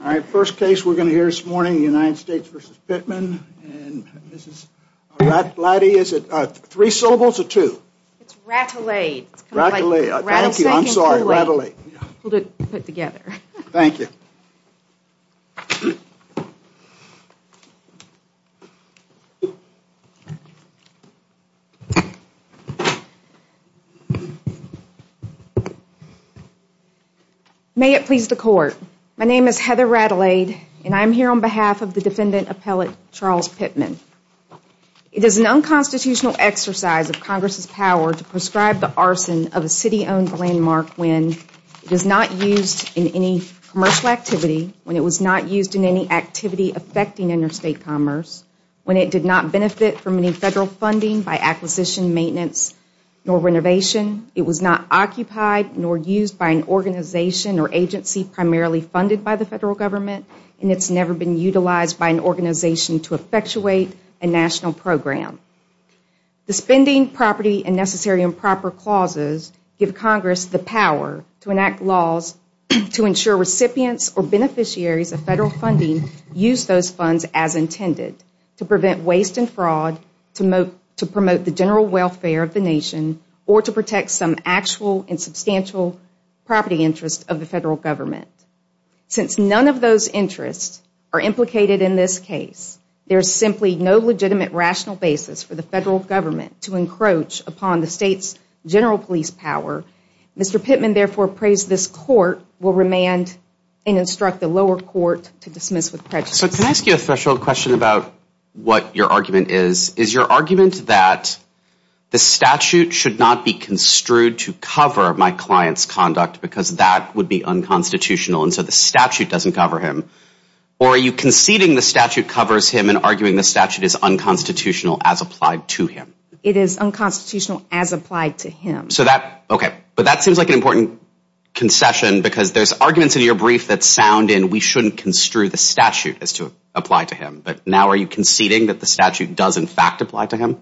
All right, first case we're going to hear this morning the United States versus Pittman and this is That laddie is it three syllables or two? It's rattle a rattle a I'm sorry Thank you May It please the court, my name is Heather rattle aid and I'm here on behalf of the defendant appellate Charles Pittman It is an unconstitutional exercise of Congress's power to prescribe the arson of a city-owned landmark When it is not used in any commercial activity when it was not used in any activity affecting interstate commerce When it did not benefit from any federal funding by acquisition maintenance Nor renovation it was not occupied nor used by an organization or agency Primarily funded by the federal government and it's never been utilized by an organization to effectuate a national program The spending property and necessary and proper clauses give Congress the power to enact laws to ensure recipients or beneficiaries of federal funding use those funds as Intended to prevent waste and fraud to move to promote the general welfare of the nation or to protect some actual and substantial property interest of the federal government Since none of those interests are implicated in this case There's simply no legitimate rational basis for the federal government to encroach upon the state's general police power Mr. Pittman therefore appraised this court will remand and instruct the lower court to dismiss with prejudice So can I ask you a special question about what your argument is is your argument that? The statute should not be construed to cover my clients conduct because that would be unconstitutional And so the statute doesn't cover him or are you conceding the statute covers him and arguing the statute is Unconstitutional as applied to him. It is unconstitutional as applied to him so that okay, but that seems like an important Concession because there's arguments in your brief that sound and we shouldn't construe the statute as to apply to him But now are you conceding that the statute does in fact apply to him?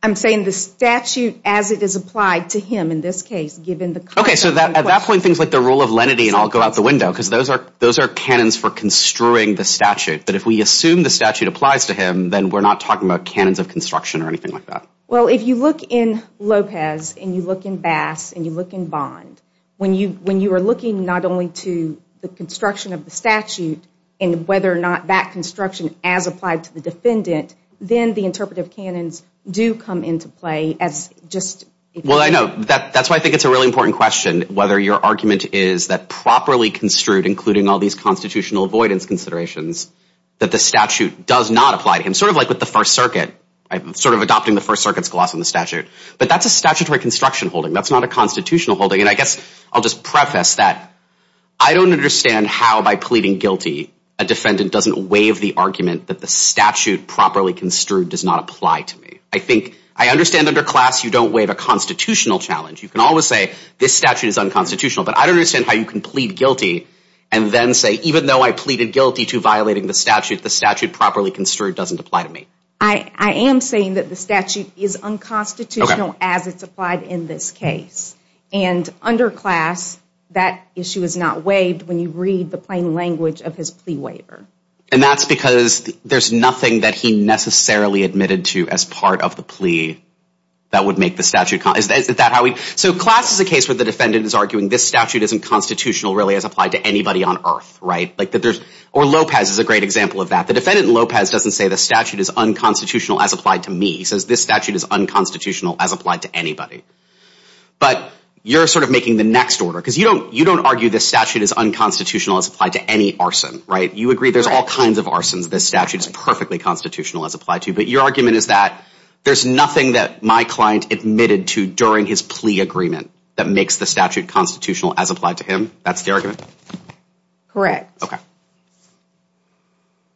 I'm Saying the statute as it is applied to him in this case given the concept Okay, so that at that point things like the rule of lenity and I'll go out the window because those are those are cannons for Construing the statute, but if we assume the statute applies to him, then we're not talking about cannons of construction or anything like that Well, if you look in Lopez and you look in Bass and you look in bond When you when you are looking not only to the construction of the statute and whether or not that construction as applied to the defendant Then the interpretive cannons do come into play as just well I know that that's why I think it's a really important question whether your argument is that properly construed including all these Constitutional avoidance considerations that the statute does not apply to him sort of like with the First Circuit I'm sort of adopting the First Circuit's gloss on the statute, but that's a statutory construction holding That's not a constitutional holding and I guess I'll just preface that I don't understand how by pleading guilty a defendant doesn't waive the argument that the statute properly construed does not apply to me I think I understand under class. You don't waive a constitutional challenge You can always say this statute is unconstitutional but I don't understand how you can plead guilty and Then say even though I pleaded guilty to violating the statute the statute properly construed doesn't apply to me I I am saying that the statute is unconstitutional as it's applied in this case and Under class that issue is not waived when you read the plain language of his plea waiver And that's because there's nothing that he necessarily admitted to as part of the plea That would make the statute is that how we so class is a case where the defendant is arguing this statute isn't Constitutional really has applied to anybody on earth, right? Like that there's or Lopez is a great example of that The defendant Lopez doesn't say the statute is unconstitutional as applied to me. He says this statute is unconstitutional as applied to anybody But you're sort of making the next order because you don't you don't argue this statute is unconstitutional as applied to any arson, right? You agree. There's all kinds of arsons This statute is perfectly constitutional as applied to you But your argument is that there's nothing that my client admitted to during his plea agreement that makes the statute Constitutional as applied to him. That's the argument Correct. Okay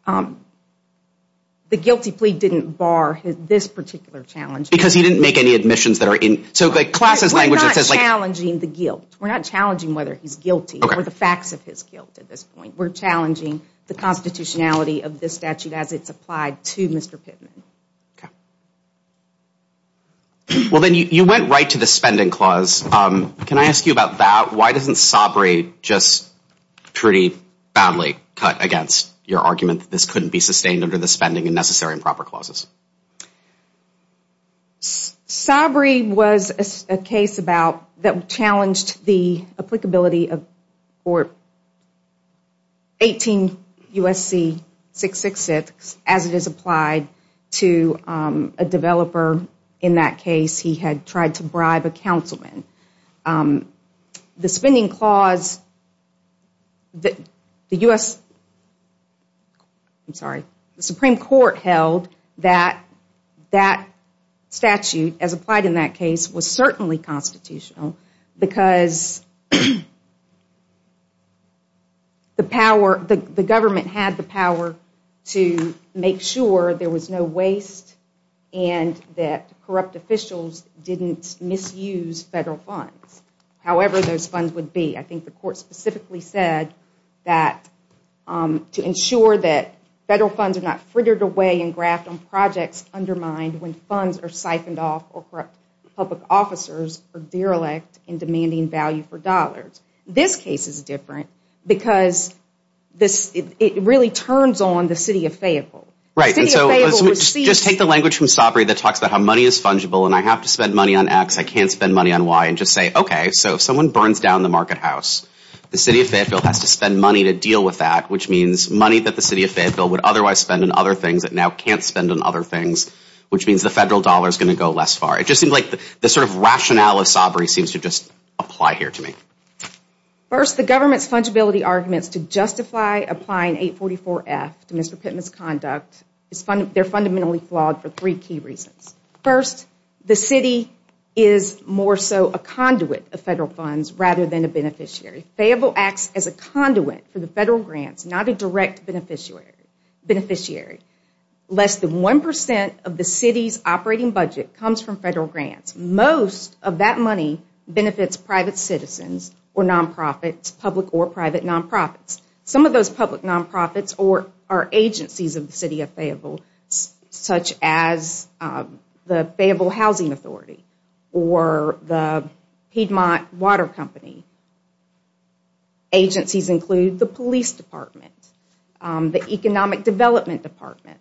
Um The guilty plea didn't bar this particular challenge because he didn't make any admissions that are in so good classes language That's like challenging the guilt. We're not challenging whether he's guilty or the facts of his guilt at this point We're challenging the constitutionality of this statute as it's applied to mr. Pittman Well, then you went right to the spending clause, um, can I ask you about that why doesn't sobriety just Pretty badly cut against your argument that this couldn't be sustained under the spending and necessary and proper clauses Sobriety was a case about that challenged the applicability of or 18 USC 666 as it is applied to a developer in that case. He had tried to bribe a councilman the spending clause That the u.s I'm sorry, the Supreme Court held that that statute as applied in that case was certainly constitutional because The power the government had the power to make sure there was no waste and That corrupt officials didn't misuse federal funds However, those funds would be I think the court specifically said that To ensure that federal funds are not frittered away and graft on projects undermined when funds are siphoned off or corrupt Public officers are derelict in demanding value for dollars. This case is different because This it really turns on the city of Fayetteville, right? Just take the language from sobriety that talks about how money is fungible and I have to spend money on X I can't spend money on Y and just say okay So if someone burns down the market house the city of Fayetteville has to spend money to deal with that which means money that the city of Fayetteville would otherwise spend in other Things that now can't spend on other things which means the federal dollar is gonna go less far It just seemed like the sort of rationale of sobriety seems to just apply here to me First the government's fungibility arguments to justify applying 844 F to mr. Pitt misconduct It's fun. They're fundamentally flawed for three key reasons first the city is More so a conduit of federal funds rather than a beneficiary Fayetteville acts as a conduit for the federal grants not a direct beneficiary beneficiary Less than 1% of the city's operating budget comes from federal grants most of that money benefits private citizens or nonprofits public or private nonprofits some of those public nonprofits or our agencies of the city of Fayetteville such as The Fayetteville Housing Authority or the Piedmont water company Agencies include the Police Department the Economic Development Department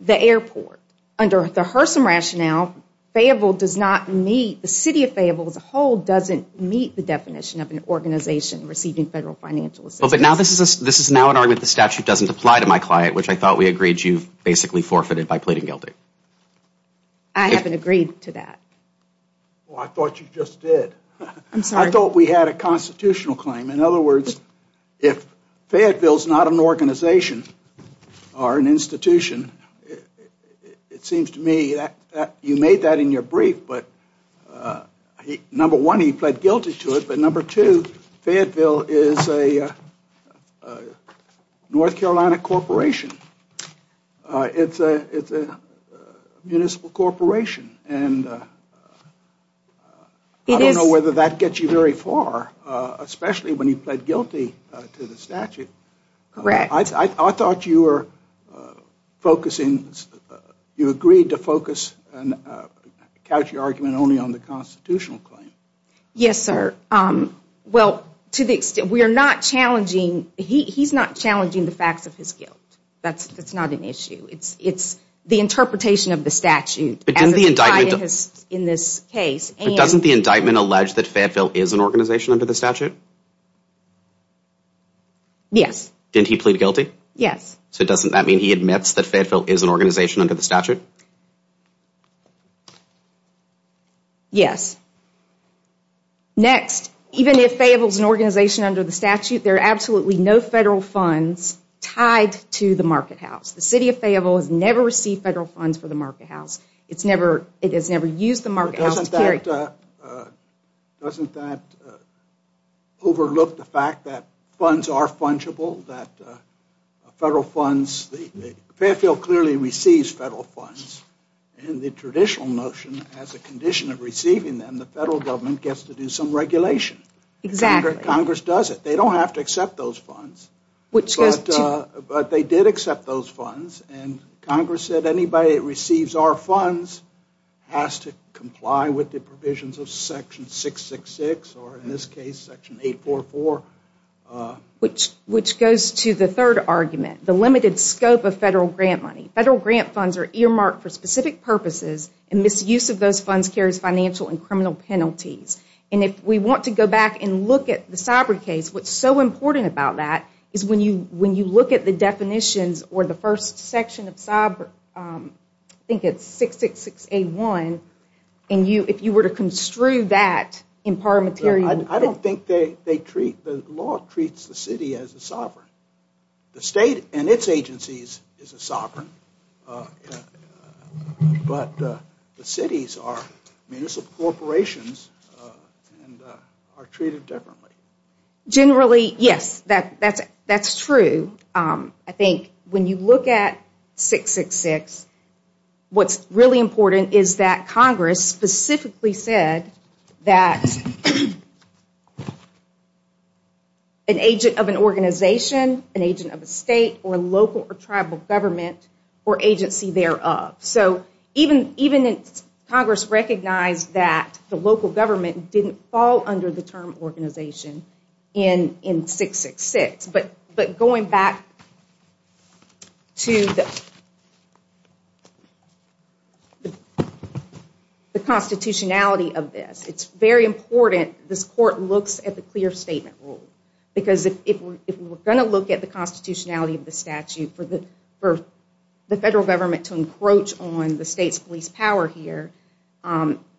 The airport under the Hurson rationale Fayetteville does not meet the city of Fayetteville as a whole doesn't meet the definition of an organization receiving federal financial assistance This is now an argument the statute doesn't apply to my client, which I thought we agreed you've basically forfeited by pleading guilty I Haven't agreed to that Well, I thought you just did. I'm sorry. I thought we had a constitutional claim in other words if Fayetteville's not an organization or an institution it seems to me that you made that in your brief, but Number one he pled guilty to it, but number two Fayetteville is a North Carolina corporation it's a it's a municipal corporation and It is whether that gets you very far Especially when you pled guilty to the statute Correct. I thought you were focusing you agreed to focus and Couch your argument only on the constitutional claim yes, sir Well to the extent we are not challenging he's not challenging the facts of his guilt, that's it's not an issue It's it's the interpretation of the statute It is the indictment is in this case and doesn't the indictment allege that Fayetteville is an organization under the statute Yes, didn't he plead guilty yes, so it doesn't that mean he admits that Fayetteville is an organization under the statute Yes Next even if Fayetteville is an organization under the statute there are absolutely no federal funds Tied to the market house the city of Fayetteville has never received federal funds for the market house It's never it has never used the market house to carry Doesn't that Overlook the fact that funds are fungible that federal funds Fayetteville clearly receives federal funds and the traditional notion as a condition of receiving them the federal government gets to do some regulation Exactly Congress does it they don't have to accept those funds which But they did accept those funds and Congress said anybody receives our funds Has to comply with the provisions of section 666 or in this case section 844 Which which goes to the third argument the limited scope of federal grant money federal grant funds are earmarked for specific Purposes and misuse of those funds carries financial and criminal penalties And if we want to go back and look at the cyber case what's so important about that is when you when you look at? the definitions or the first section of cyber Think it's six six six eight one and you if you were to construe that in par material I don't think they they treat the law treats the city as a sovereign the state and its agencies is a sovereign But the cities are municipal corporations Are treated differently Generally yes that that's that's true. I think when you look at 666 What's really important? Is that Congress specifically said that? An agent of an organization an agent of a state or local or tribal government or agency thereof so even even if Congress recognized that the local government didn't fall under the term organization in In six six six, but but going back To the The Constitutionality of this it's very important this court looks at the clear statement rule because if we're going to look at the Constitutionality of the statute for the birth the federal government to encroach on the state's police power here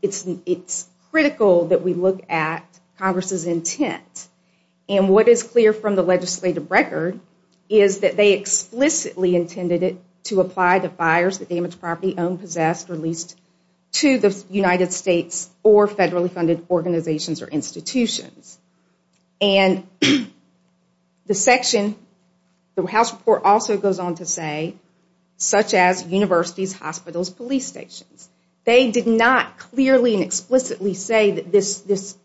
It's it's critical that we look at Congress's intent and what is clear from the legislative record is that they Explicitly intended it to apply the fires the damaged property owned possessed released to the United States or federally funded organizations or institutions and The section The house report also goes on to say Such as universities hospitals police stations. They did not clearly and explicitly say that this this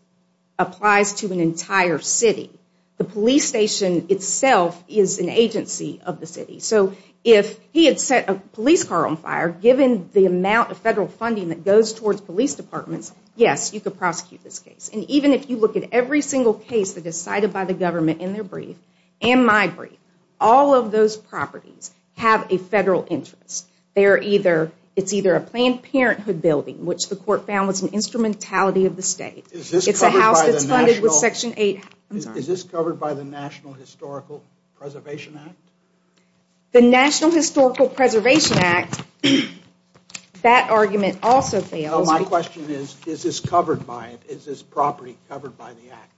Applies to an entire city the police station itself is an agency of the city So if he had set a police car on fire given the amount of federal funding that goes towards police departments Yes You could prosecute this case and even if you look at every single case that is cited by the government in their brief and my brief All of those properties have a federal interest They are either it's either a Planned Parenthood building which the court found was an instrumentality of the state It's a house. It's funded with section 8. Is this covered by the National Historical Preservation Act? the National Historical Preservation Act That argument also fails. My question is is this covered by it is this property covered by the act?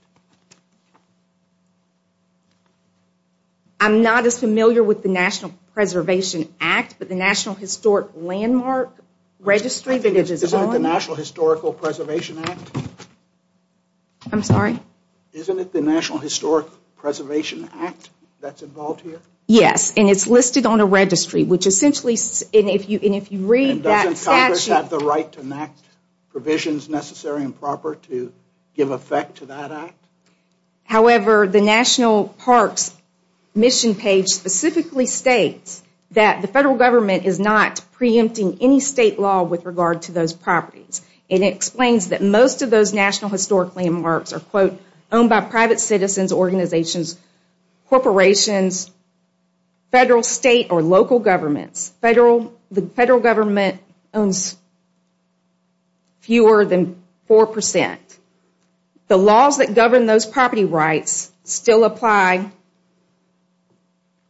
I'm not as familiar with the National Preservation Act, but the National Historic Landmark Registry that it is the National Historical Preservation Act I'm sorry Isn't it the National Historic Preservation Act that's involved here? Yes And it's listed on a registry which essentially in if you in if you read that's actually have the right to enact Provisions necessary and proper to give effect to that act however, the National Parks Mission page specifically states that the federal government is not Pre-empting any state law with regard to those properties and it explains that most of those National Historic Landmarks are quote owned by private citizens organizations corporations Federal state or local governments federal the federal government owns Fewer than 4% the laws that govern those property rights still apply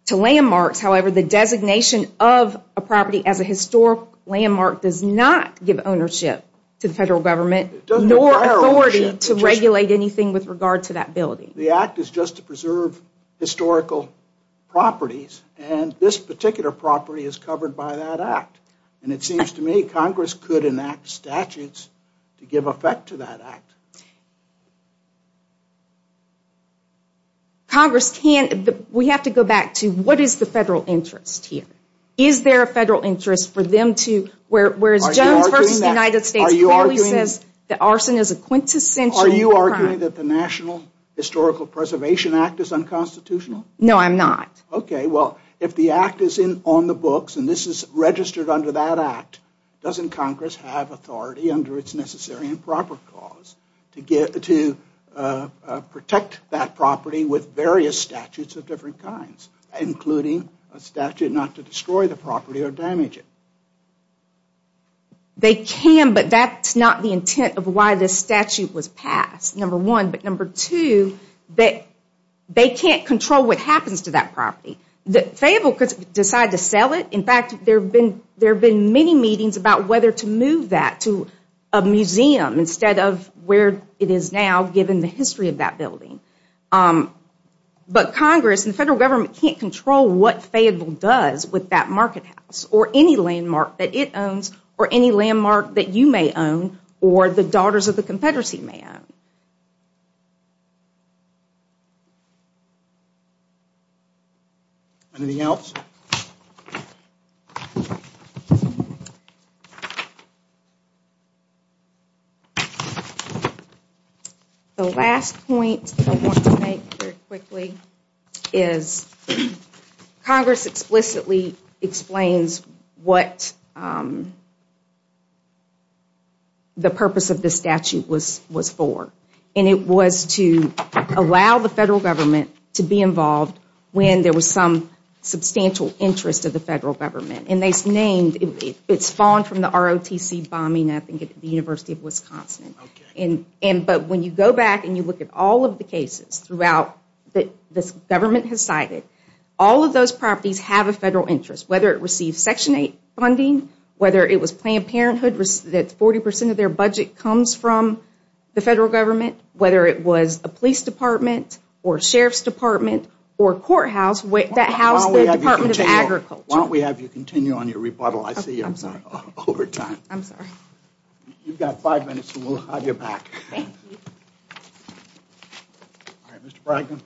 To Landmarks, however, the designation of a property as a historic landmark does not give ownership to the federal government Nor authority to regulate anything with regard to that building. The act is just to preserve historical Properties and this particular property is covered by that act and it seems to me Congress could enact statutes To give effect to that act Congress Congress can't we have to go back to what is the federal interest here? Is there a federal interest for them to where whereas Jones versus the United States clearly says that arson is a quintessential crime? Are you arguing that the National Historical Preservation Act is unconstitutional? No, I'm not. Okay. Well if the act is in on the books and this is registered under that act Doesn't Congress have authority under its necessary and proper cause to get to Protect that property with various statutes of different kinds including a statute not to destroy the property or damage it They can but that's not the intent of why this statute was passed number one, but number two that They can't control what happens to that property that fable could decide to sell it in fact, there have been there been many meetings about whether to move that to a Museum instead of where it is now given the history of that building But Congress and the federal government can't control what Fayetteville does with that market house or any Landmark that it owns or any landmark that you may own or the daughters of the Confederacy may own Anything else The Last point Quickly is Congress explicitly explains what? The purpose of this statute was was for and it was to Allow the federal government to be involved when there was some Substantial interest of the federal government and they named it's fallen from the ROTC bombing I think at the University of Wisconsin in and but when you go back and you look at all of the cases throughout That this government has cited all of those properties have a federal interest whether it receives section 8 funding Whether it was Planned Parenthood risk that 40% of their budget comes from the federal government Whether it was a police department or sheriff's department or courthouse wait that house Why don't we have you continue on your rebuttal? I see you. I'm sorry over time. I'm sorry You've got five minutes. We'll have your back Mr. Brighton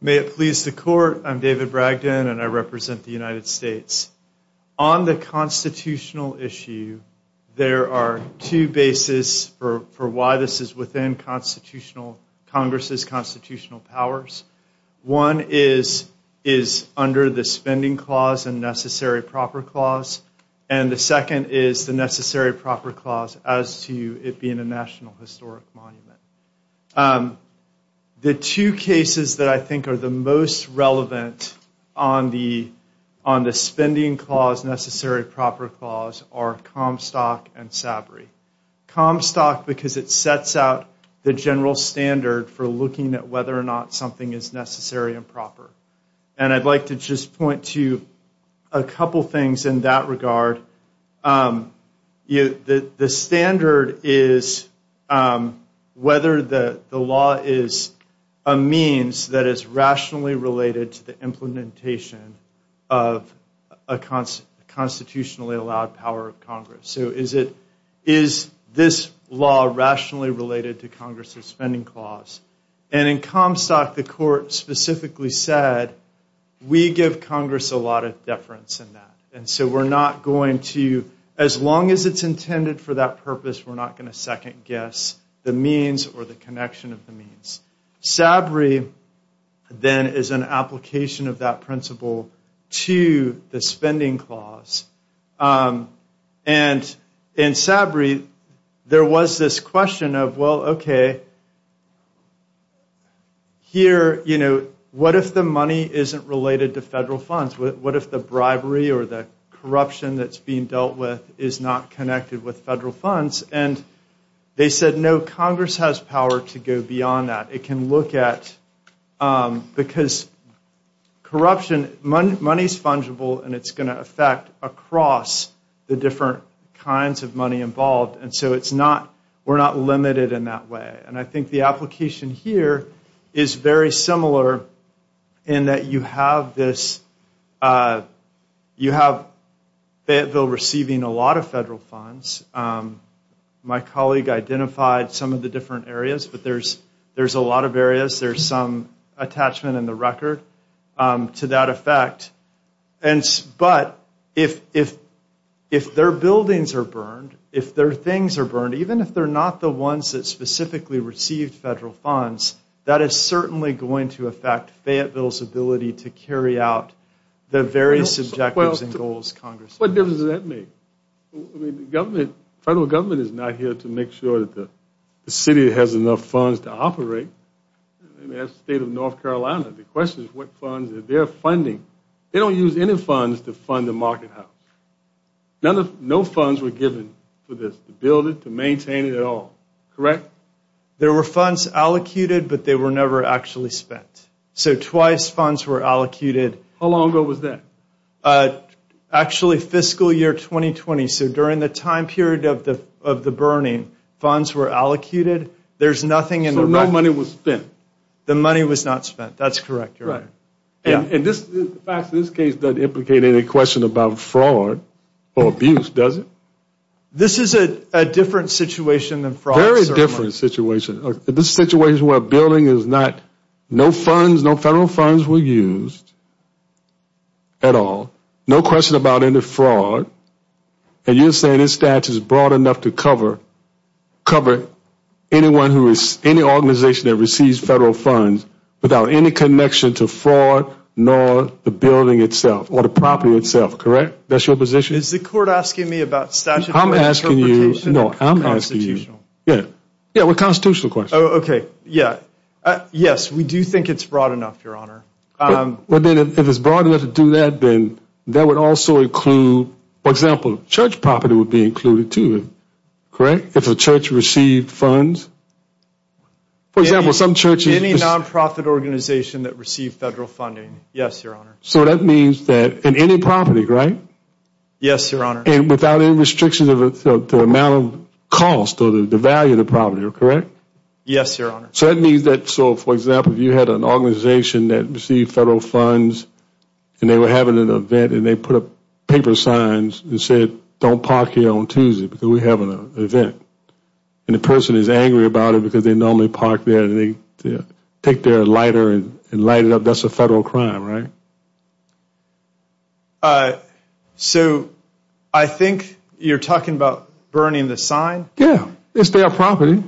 May it please the court. I'm David Bragdon and I represent the United States on the constitutional issue There are two bases for for why this is within constitutional Congress's constitutional powers one is is under the spending clause and necessary proper clause and The second is the necessary proper clause as to it being a national historic monument The two cases that I think are the most relevant on the on the spending clause necessary proper clause or Comstock and Sabri Comstock because it sets out the general standard for looking at whether or not something is necessary and proper and I'd like to just point to a couple things in that regard You the the standard is Whether the the law is a means that is rationally related to the implementation of a constitutionally allowed power of Congress So is it is this law rationally related to Congress's spending clause and in Comstock the court? specifically said We give Congress a lot of deference in that and so we're not going to as long as it's intended for that purpose We're not going to second-guess the means or the connection of the means Sabri Then is an application of that principle to the spending clause and In Sabri, there was this question of well, okay Here, you know, what if the money isn't related to federal funds what if the bribery or the corruption that's being dealt with is not connected with federal funds and They said no Congress has power to go beyond that it can look at because Corruption money money's fungible and it's going to affect across the different kinds of money involved And so it's not we're not limited in that way. And I think the application here is very similar in That you have this You have Fayetteville receiving a lot of federal funds My colleague identified some of the different areas, but there's there's a lot of areas. There's some attachment in the record to that effect and but if if if Their buildings are burned if their things are burned Even if they're not the ones that specifically received federal funds that is certainly going to affect Fayetteville's ability to carry out The various objectives and goals Congress. What does that mean? Government federal government is not here to make sure that the city has enough funds to operate That's state of North Carolina. The question is what funds that they're funding. They don't use any funds to fund the market house None of no funds were given for this to build it to maintain it at all, correct There were funds allocated, but they were never actually spent so twice funds were allocated a long ago was that Actually fiscal year 2020 so during the time period of the of the burning funds were allocated There's nothing and no money was spent. The money was not spent. That's correct, right? Yeah, and this back to this case doesn't implicate any question about fraud or abuse. Does it? This is a different situation than fraud very different situation This situation where building is not no funds. No federal funds were used At all. No question about any fraud And you're saying this statute is broad enough to cover cover Anyone who is any organization that receives federal funds without any connection to fraud nor the building itself? Or the property itself, correct. That's your position is the court asking me about statue. I'm asking you. No, I'm asking you Yeah, yeah, we're constitutional question. Okay. Yeah Yes, we do think it's broad enough your honor But then if it's broad enough to do that, then that would also include for example church property would be included to it Correct. If the church received funds For example some churches any nonprofit organization that received federal funding. Yes, your honor So that means that in any property, right? Yes, your honor and without any restrictions of the amount of cost or the value of the property, correct? Yes, your honor. So that means that so for example, you had an organization that received federal funds And they were having an event and they put up paper signs and said don't park here on Tuesday because we have an event And the person is angry about it because they normally park there and they take their lighter and light it up That's a federal crime, right? So, I think you're talking about burning the sign yeah, it's their property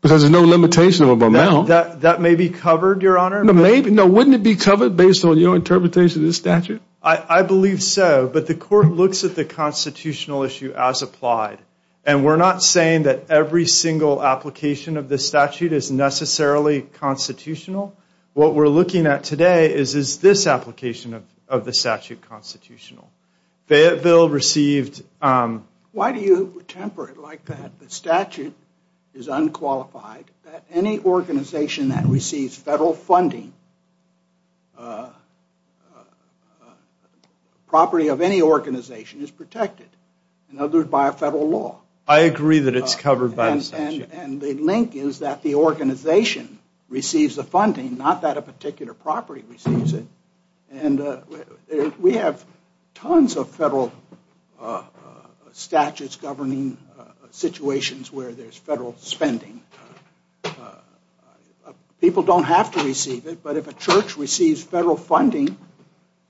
Because there's no limitation of a male that that may be covered your honor No, maybe no wouldn't it be covered based on your interpretation of the statute? I believe so But the court looks at the constitutional issue as applied and we're not saying that every single application of this statute is necessarily Constitutional what we're looking at today is is this application of the statute constitutional? Fayetteville received Why do you temper it like that? The statute is unqualified any organization that receives federal funding? Property of any organization is protected in other by a federal law I agree that it's covered by and and the link is that the organization receives the funding not that a particular property receives it and We have tons of federal Statutes governing situations where there's federal spending People don't have to receive it, but if a church receives federal funding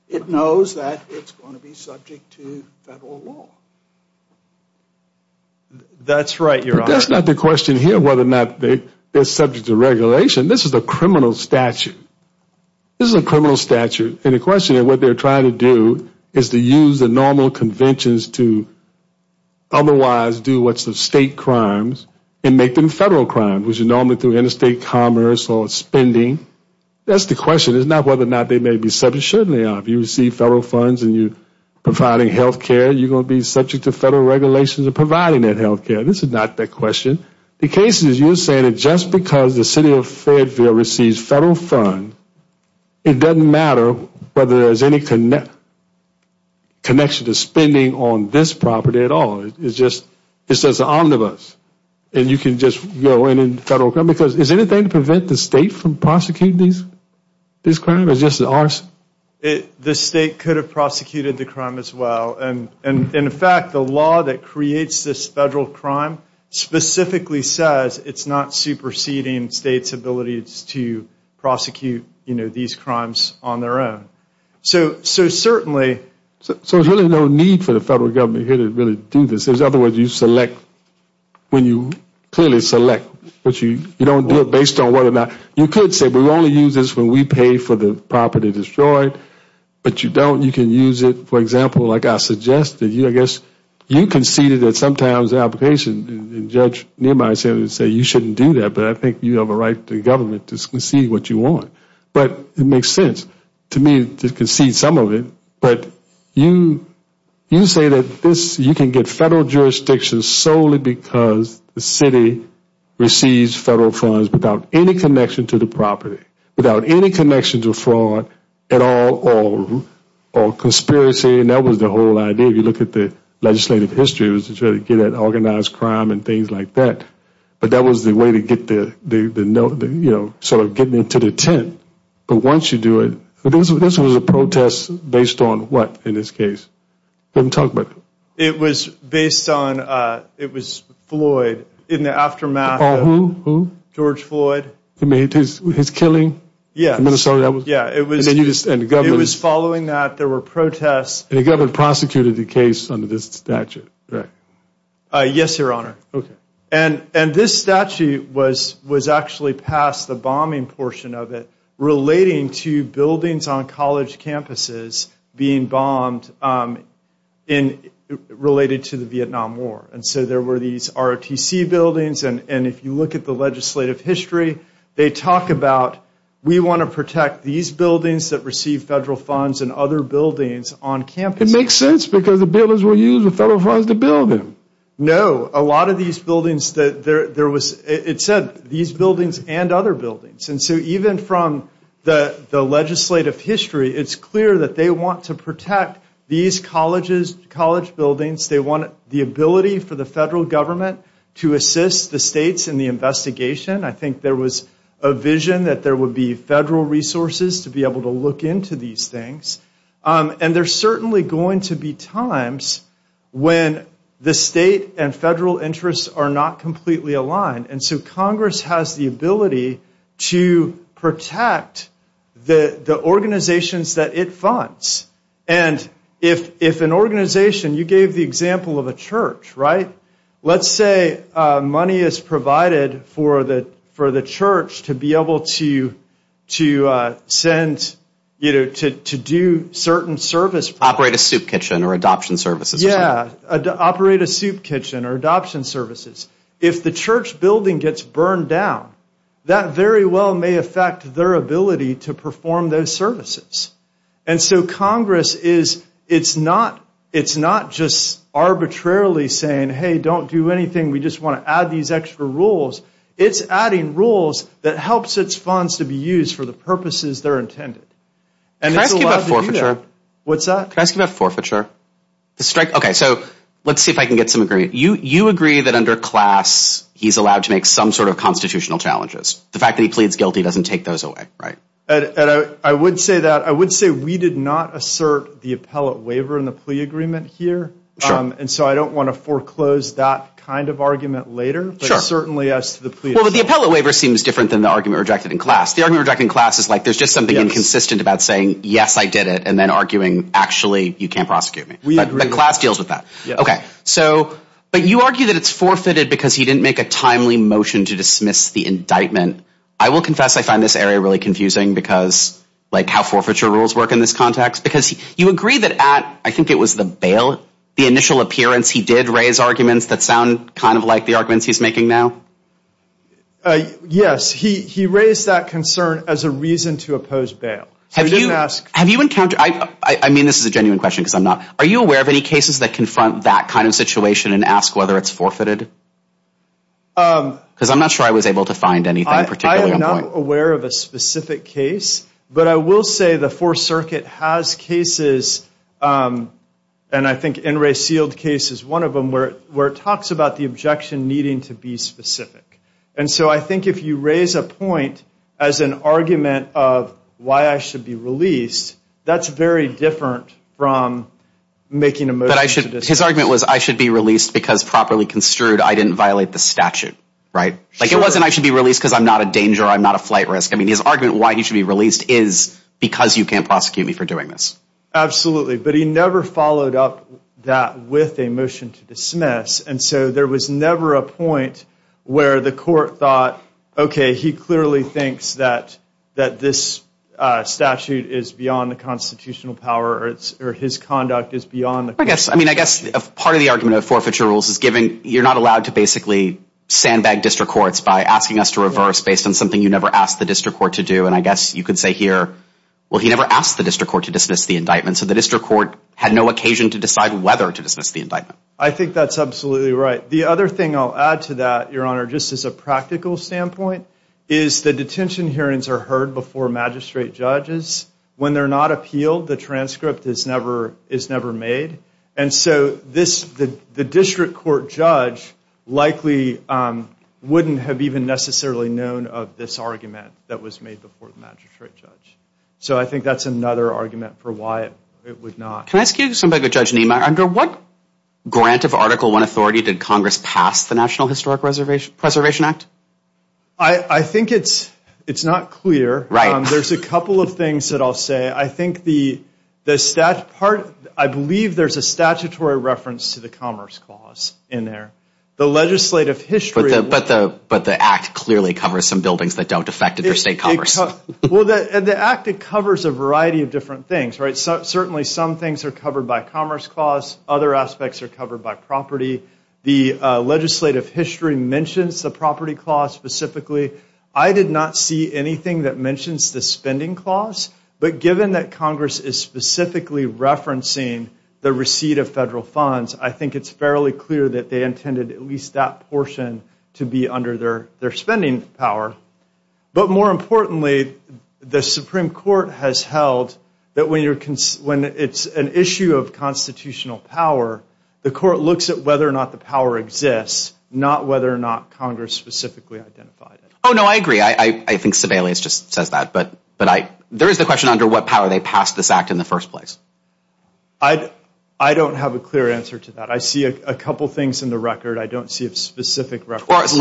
it knows that it's going to be subject to That's Right, you're that's not the question here whether or not they they're subject to regulation. This is a criminal statute This is a criminal statute and a question of what they're trying to do is to use the normal conventions to Otherwise do what's the state crimes and make them federal crime, which is normally through interstate commerce or spending? That's the question it's not whether or not they may be subject certainly if you receive federal funds and you Providing health care you're gonna be subject to federal regulations of providing that health care This is not that question the case is you're saying it just because the city of Fayetteville receives federal fund It doesn't matter whether there's any connect Connection to spending on this property at all It's just this is omnibus and you can just go in and federal come because there's anything to prevent the state from prosecuting This crime is just an arson The state could have prosecuted the crime as well. And and in fact the law that creates this federal crime Specifically says it's not superseding state's abilities to prosecute, you know these crimes on their own So so certainly So there's really no need for the federal government here to really do this. There's other words you select When you clearly select what you you don't do it based on whether or not you could say we only use this when we pay For the property destroyed, but you don't you can use it For example, like I suggested you I guess you conceded that sometimes the application judge Near my say would say you shouldn't do that But I think you have a right to government to see what you want But it makes sense to me to concede some of it, but you You say that this you can get federal jurisdictions solely because the city Receives federal funds without any connection to the property without any connection to fraud at all Or conspiracy and that was the whole idea If you look at the legislative history was to try to get an organized crime and things like that But that was the way to get there they've been nothing, you know, sort of getting into the tent But once you do it, this was a protest based on what in this case didn't talk But it was based on it was Floyd in the aftermath George Floyd to meet his killing. Yeah, Minnesota. Yeah, it was a news and government was following that there were protests They got a prosecuted the case under this statute, right? Yes, your honor, okay, and and this statute was was actually passed the bombing portion of it relating to buildings on college campuses being bombed in Related to the Vietnam War and so there were these ROTC buildings and and if you look at the legislative history They talk about we want to protect these buildings that receive federal funds and other buildings on campus It makes sense because the builders will use the federal funds to build them No a lot of these buildings that there was it said these buildings and other buildings and so even from the Legislative history. It's clear that they want to protect these colleges college buildings They want the ability for the federal government to assist the states in the investigation I think there was a vision that there would be federal resources to be able to look into these things And there's certainly going to be times when the state and federal interests are not completely aligned and so Congress has the ability to protect the organizations that it funds and If if an organization you gave the example of a church, right? let's say money is provided for the for the church to be able to To send you know to do certain service operate a soup kitchen or adoption services Yeah, operate a soup kitchen or adoption services if the church building gets burned down That very well may affect their ability to perform those services And so Congress is it's not it's not just Arbitrarily saying hey don't do anything. We just want to add these extra rules It's adding rules that helps its funds to be used for the purposes. They're intended and Forfeiture, what's that? Can I ask you about forfeiture the strike? Okay, so let's see if I can get some agree You you agree that under class He's allowed to make some sort of constitutional challenges the fact that he pleads guilty doesn't take those away, right? And I would say that I would say we did not assert the appellate waiver in the plea agreement here And so I don't want to foreclose that kind of argument later Sure, certainly as the plea with the appellate waiver seems different than the argument rejected in class The argument rejected in class is like there's just something inconsistent about saying. Yes, I did it and then arguing actually you can't prosecute me We agree the class deals with that Okay, so but you argue that it's forfeited because he didn't make a timely motion to dismiss the indictment I will confess I find this area really confusing because Like how forfeiture rules work in this context because you agree that at I think it was the bail The initial appearance he did raise arguments that sound kind of like the arguments he's making now Yes, he he raised that concern as a reason to oppose bail Have you asked have you encountered I I mean, this is a genuine question because I'm not are you aware of any cases that confront? That kind of situation and ask whether it's forfeited Because I'm not sure I was able to find anything particularly aware of a specific case But I will say the Fourth Circuit has cases And I think in Ray sealed case is one of them where where it talks about the objection needing to be specific And so I think if you raise a point as an argument of why I should be released. That's very different from Making a move that I should his argument was I should be released because properly construed I didn't violate the statute right like it wasn't I should be released because I'm not a danger. I'm not a flight risk I mean his argument why he should be released is because you can't prosecute me for doing this Absolutely, but he never followed up that with a motion to dismiss and so there was never a point Where the court thought okay, he clearly thinks that that this Statute is beyond the constitutional power or its or his conduct is beyond the I guess I mean, I guess a part of the argument of forfeiture rules is given you're not allowed to basically Sandbag district courts by asking us to reverse based on something you never asked the district court to do and I guess you could say Well, he never asked the district court to dismiss the indictment So the district court had no occasion to decide whether to dismiss the indictment I think that's absolutely right. The other thing I'll add to that your honor Just as a practical standpoint is the detention hearings are heard before magistrate judges When they're not appealed the transcript is never is never made. And so this the the district court judge likely Wouldn't have even necessarily known of this argument that was made before the magistrate judge So I think that's another argument for why it would not can I ask you somebody to judge name? I under what grant of article 1 authority did Congress pass the National Historic Reservation Preservation Act. I Think it's it's not clear. Right? There's a couple of things that I'll say I think the the stat part I believe there's a statutory reference to the Commerce Clause in there the legislative history But the but the act clearly covers some buildings that don't affect interstate Congress Well that the act it covers a variety of different things, right? so certainly some things are covered by Commerce Clause other aspects are covered by property the Legislative history mentions the property clause specifically I did not see anything that mentions the spending clause But given that Congress is specifically referencing the receipt of federal funds I think it's fairly clear that they intended at least that portion to be under their their spending power but more importantly The Supreme Court has held that when you're cons when it's an issue of constitutional power The court looks at whether or not the power exists not whether or not Congress specifically identified. Oh, no, I agree I think Sibelius just says that but but I there is the question under what power they passed this act in the first place. I I don't have a clear answer to that. I see a couple things in the record I don't see if specific reference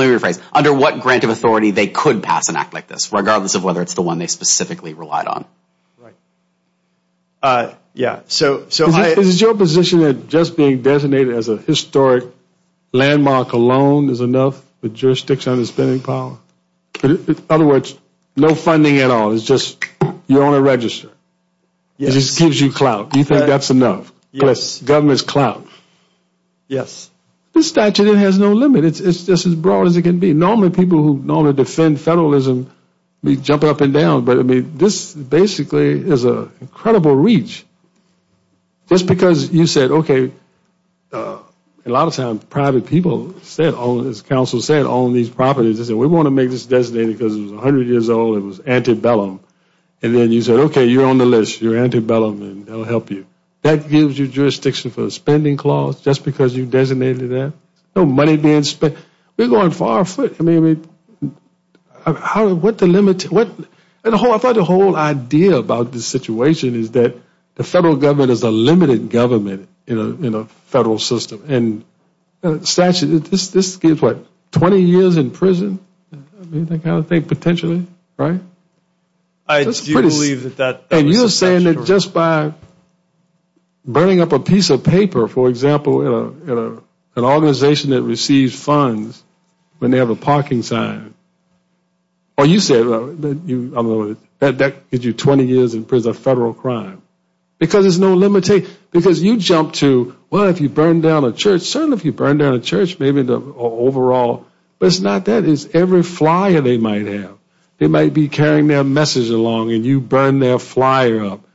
under what grant of authority they could pass an act like this regardless of whether it's the one they specifically relied on Yeah, so so is your position that just being designated as a historic Landmark alone is enough with jurisdiction on the spending power Other words no funding at all. It's just you're on a register It just gives you clout. Do you think that's enough? Yes government's clout Yes, the statute it has no limit It's just as broad as it can be normally people who normally defend federalism We jump it up and down, but I mean this basically is a incredible reach Just because you said okay A lot of times private people said all this council said on these properties I said we want to make this designated because it was 100 years old it was antebellum And then you said okay, you're on the list you're antebellum And I'll help you that gives you jurisdiction for the spending clause just because you designated that no money being spent We're going far foot. I mean How what the limit what and the whole I thought the whole idea about this situation Is that the federal government is a limited government in a federal system and? Statue this this gives what 20 years in prison They kind of think potentially right I? Believe that that and you're saying that just by Burning up a piece of paper for example in a an organization that receives funds when they have a parking sign Or you said That that gives you 20 years in prison a federal crime Because there's no limit a because you jump to well if you burn down a church certainly if you burn down a church Maybe the overall, but it's not that is every flyer They might have they might be carrying their message along and you burn their flyer up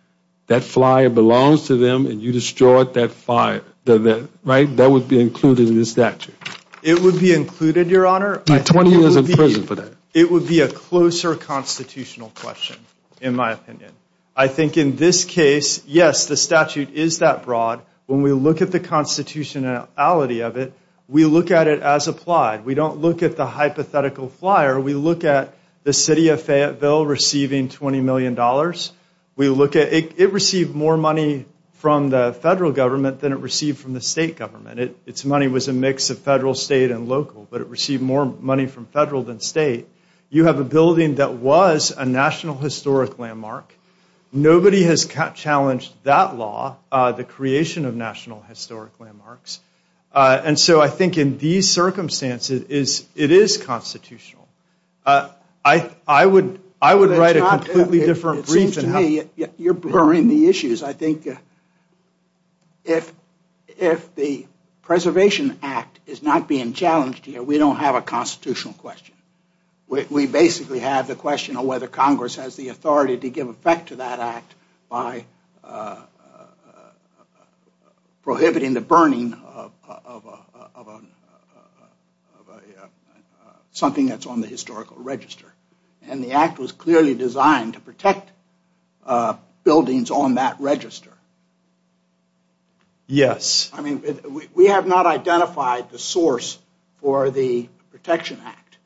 That flyer belongs to them and you destroy it that fire the that right that would be included in the statute It would be included your honor my 20 years in prison for that it would be a closer Constitutional question in my opinion. I think in this case yes The statute is that broad when we look at the constitutionality of it. We look at it as applied We don't look at the hypothetical flyer. We look at the city of Fayetteville receiving 20 million dollars We look at it received more money from the federal government than it received from the state government It's money was a mix of federal state and local, but it received more money from federal than state You have a building that was a National Historic Landmark Nobody has challenged that law the creation of National Historic Landmarks And so I think in these circumstances is it is constitutional I I would I would write a completely different reason. Yeah, you're blurring the issues. I think If if the Preservation Act is not being challenged here. We don't have a constitutional question we basically have the question of whether Congress has the authority to give effect to that act by Prohibiting the burning of Something that's on the historical register and the act was clearly designed to protect Buildings on that register Yes, I mean we have not identified the source for the Protection Act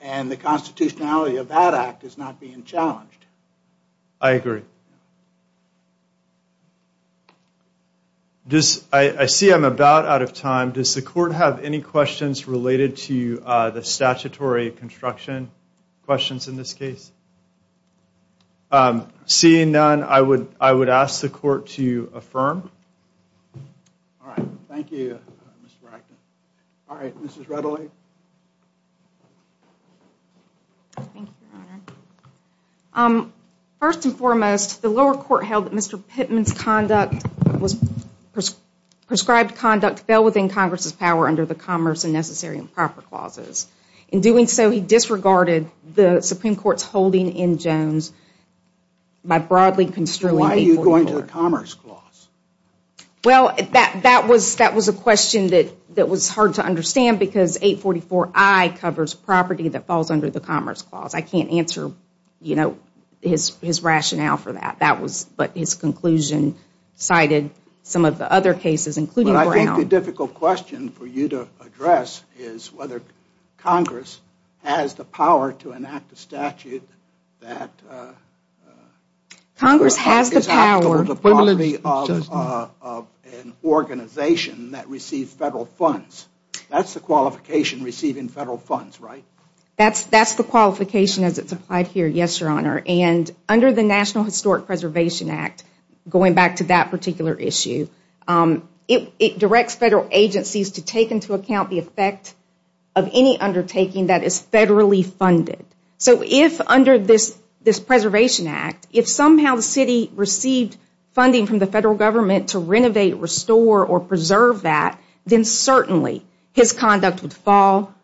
And the constitutionality of that act is not being challenged. I agree This I see I'm about out of time does the court have any questions related to the statutory construction questions in this case I'm seeing none. I would I would ask the court to affirm First and foremost the lower court held that mr. Pittman's conduct was Prescribed conduct fell within Congress's power under the Commerce and Necessary and Proper Clauses in doing so he disregarded the Supreme Court's holding in Jones My broadly construed. Why are you going to the Commerce Clause? Well that that was that was a question that that was hard to understand because 844 I Covers property that falls under the Commerce Clause. I can't answer you know his his rationale for that that was but his conclusion Cited some of the other cases including I think the difficult question for you to address is whether Congress has the power to enact a statute that Congress has the power Organization that receives federal funds, that's the qualification receiving federal funds, right? That's that's the qualification as it's applied here. Yes, your honor and under the National Historic Preservation Act Going back to that particular issue It directs federal agencies to take into account the effect of any undertaking that is federally funded So if under this this Preservation Act if somehow the city received Funding from the federal government to renovate restore or preserve that then certainly his conduct would fall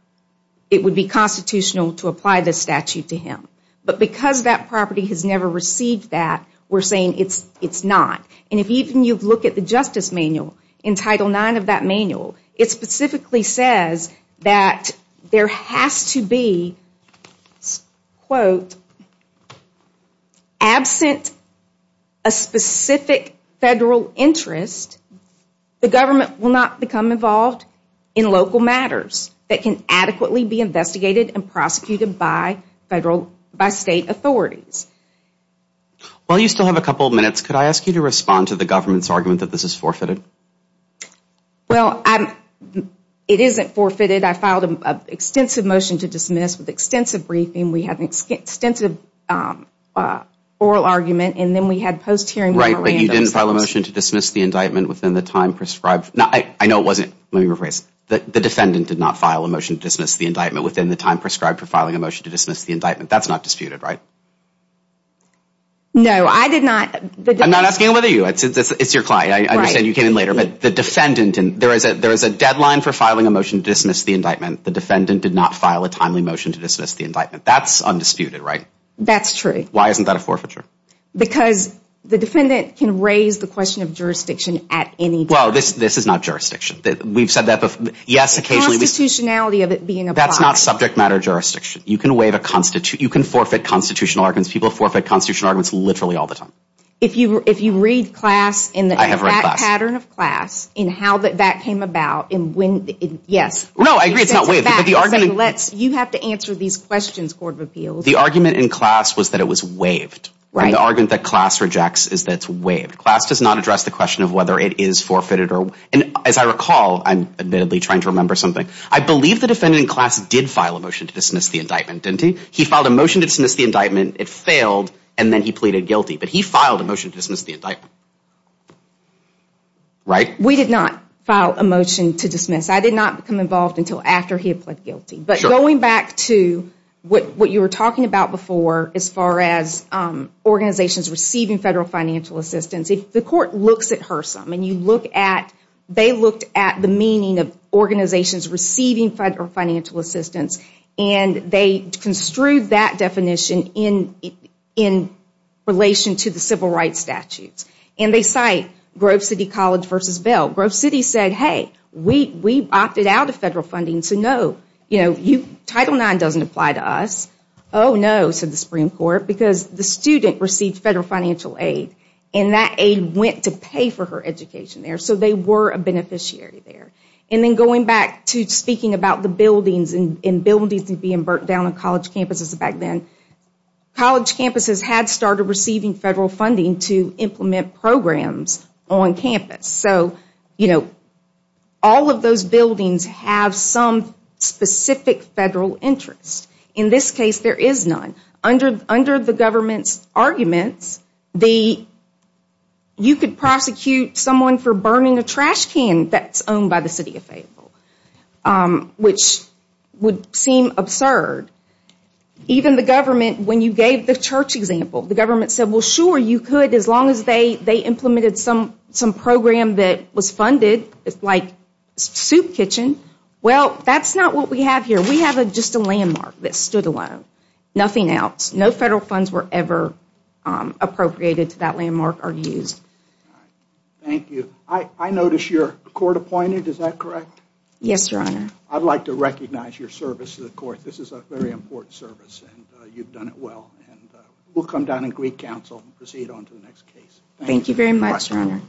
It would be constitutional to apply this statute to him But because that property has never received that we're saying it's it's not and if even you look at the Justice Manual in Title 9 of that manual it specifically says that There has to be Quote Absent a specific federal interest The government will not become involved in local matters that can adequately be investigated and prosecuted by Federal by state authorities Well, you still have a couple of minutes. Could I ask you to respond to the government's argument that this is forfeited? Well, I'm it isn't forfeited. I filed an extensive motion to dismiss with extensive briefing. We have an extensive Oral argument and then we had post hearing right when you didn't file a motion to dismiss the indictment within the time prescribed No I know it wasn't let me rephrase The defendant did not file a motion to dismiss the indictment within the time prescribed for filing a motion to dismiss the indictment That's not disputed, right? No, I did not I'm not asking whether you it's your client I understand you came in later But the defendant and there is a there is a deadline for filing a motion to dismiss the indictment The defendant did not file a timely motion to dismiss the indictment. That's undisputed, right? That's true Why isn't that a forfeiture? Because the defendant can raise the question of jurisdiction at any well This is not jurisdiction that we've said that before. Yes. Occasionally the Of it being that's not subject matter jurisdiction you can waive a constitute you can forfeit constitutional arguments people forfeit constitutional arguments literally all the time if you if you read class in the Pattern of class in how that that came about in wind. Yes. No, I agree It's not way that the argument lets you have to answer these questions Court of Appeals the argument in class was that it was waived Right the argument that class rejects is that's waived class does not address the question of whether it is forfeited or and as I recall I'm admittedly trying to remember something I believe the defendant in class did file a motion to dismiss the indictment didn't he he filed a motion to dismiss the indictment It failed and then he pleaded guilty, but he filed a motion to dismiss the indictment Right, we did not file a motion to dismiss I did not become involved until after he had pled guilty, but going back to what what you were talking about before as far as Organizations receiving federal financial assistance if the court looks at her sum and you look at they looked at the meaning of organizations receiving federal financial assistance and they construed that definition in in Relation to the civil rights statutes and they cite Grove City College versus Bell Grove City said hey We we opted out of federal funding to know you know you title nine doesn't apply to us Oh, no So the Supreme Court because the student received federal financial aid and that aid went to pay for her education there so they were a Beneficiary there and then going back to speaking about the buildings and in buildings and being burnt down on college campuses back then College campuses had started receiving federal funding to implement programs on campus, so you know all of those buildings have some Specific federal interest in this case there is none under under the government's arguments the You could prosecute someone for burning a trash can that's owned by the city of Fayetteville Which would seem absurd? Even the government when you gave the church example the government said well sure you could as long as they they implemented some some program That was funded. It's like Soup kitchen well, that's not what we have here. We have a just a landmark that stood alone nothing else no federal funds were ever Appropriated to that landmark are used Thank you. I I notice your court appointed. Is that correct? Yes, your honor. I'd like to recognize your service to the court This is a very important service, and you've done it well, and we'll come down and Greek Council proceed on to the next case Thank you very much You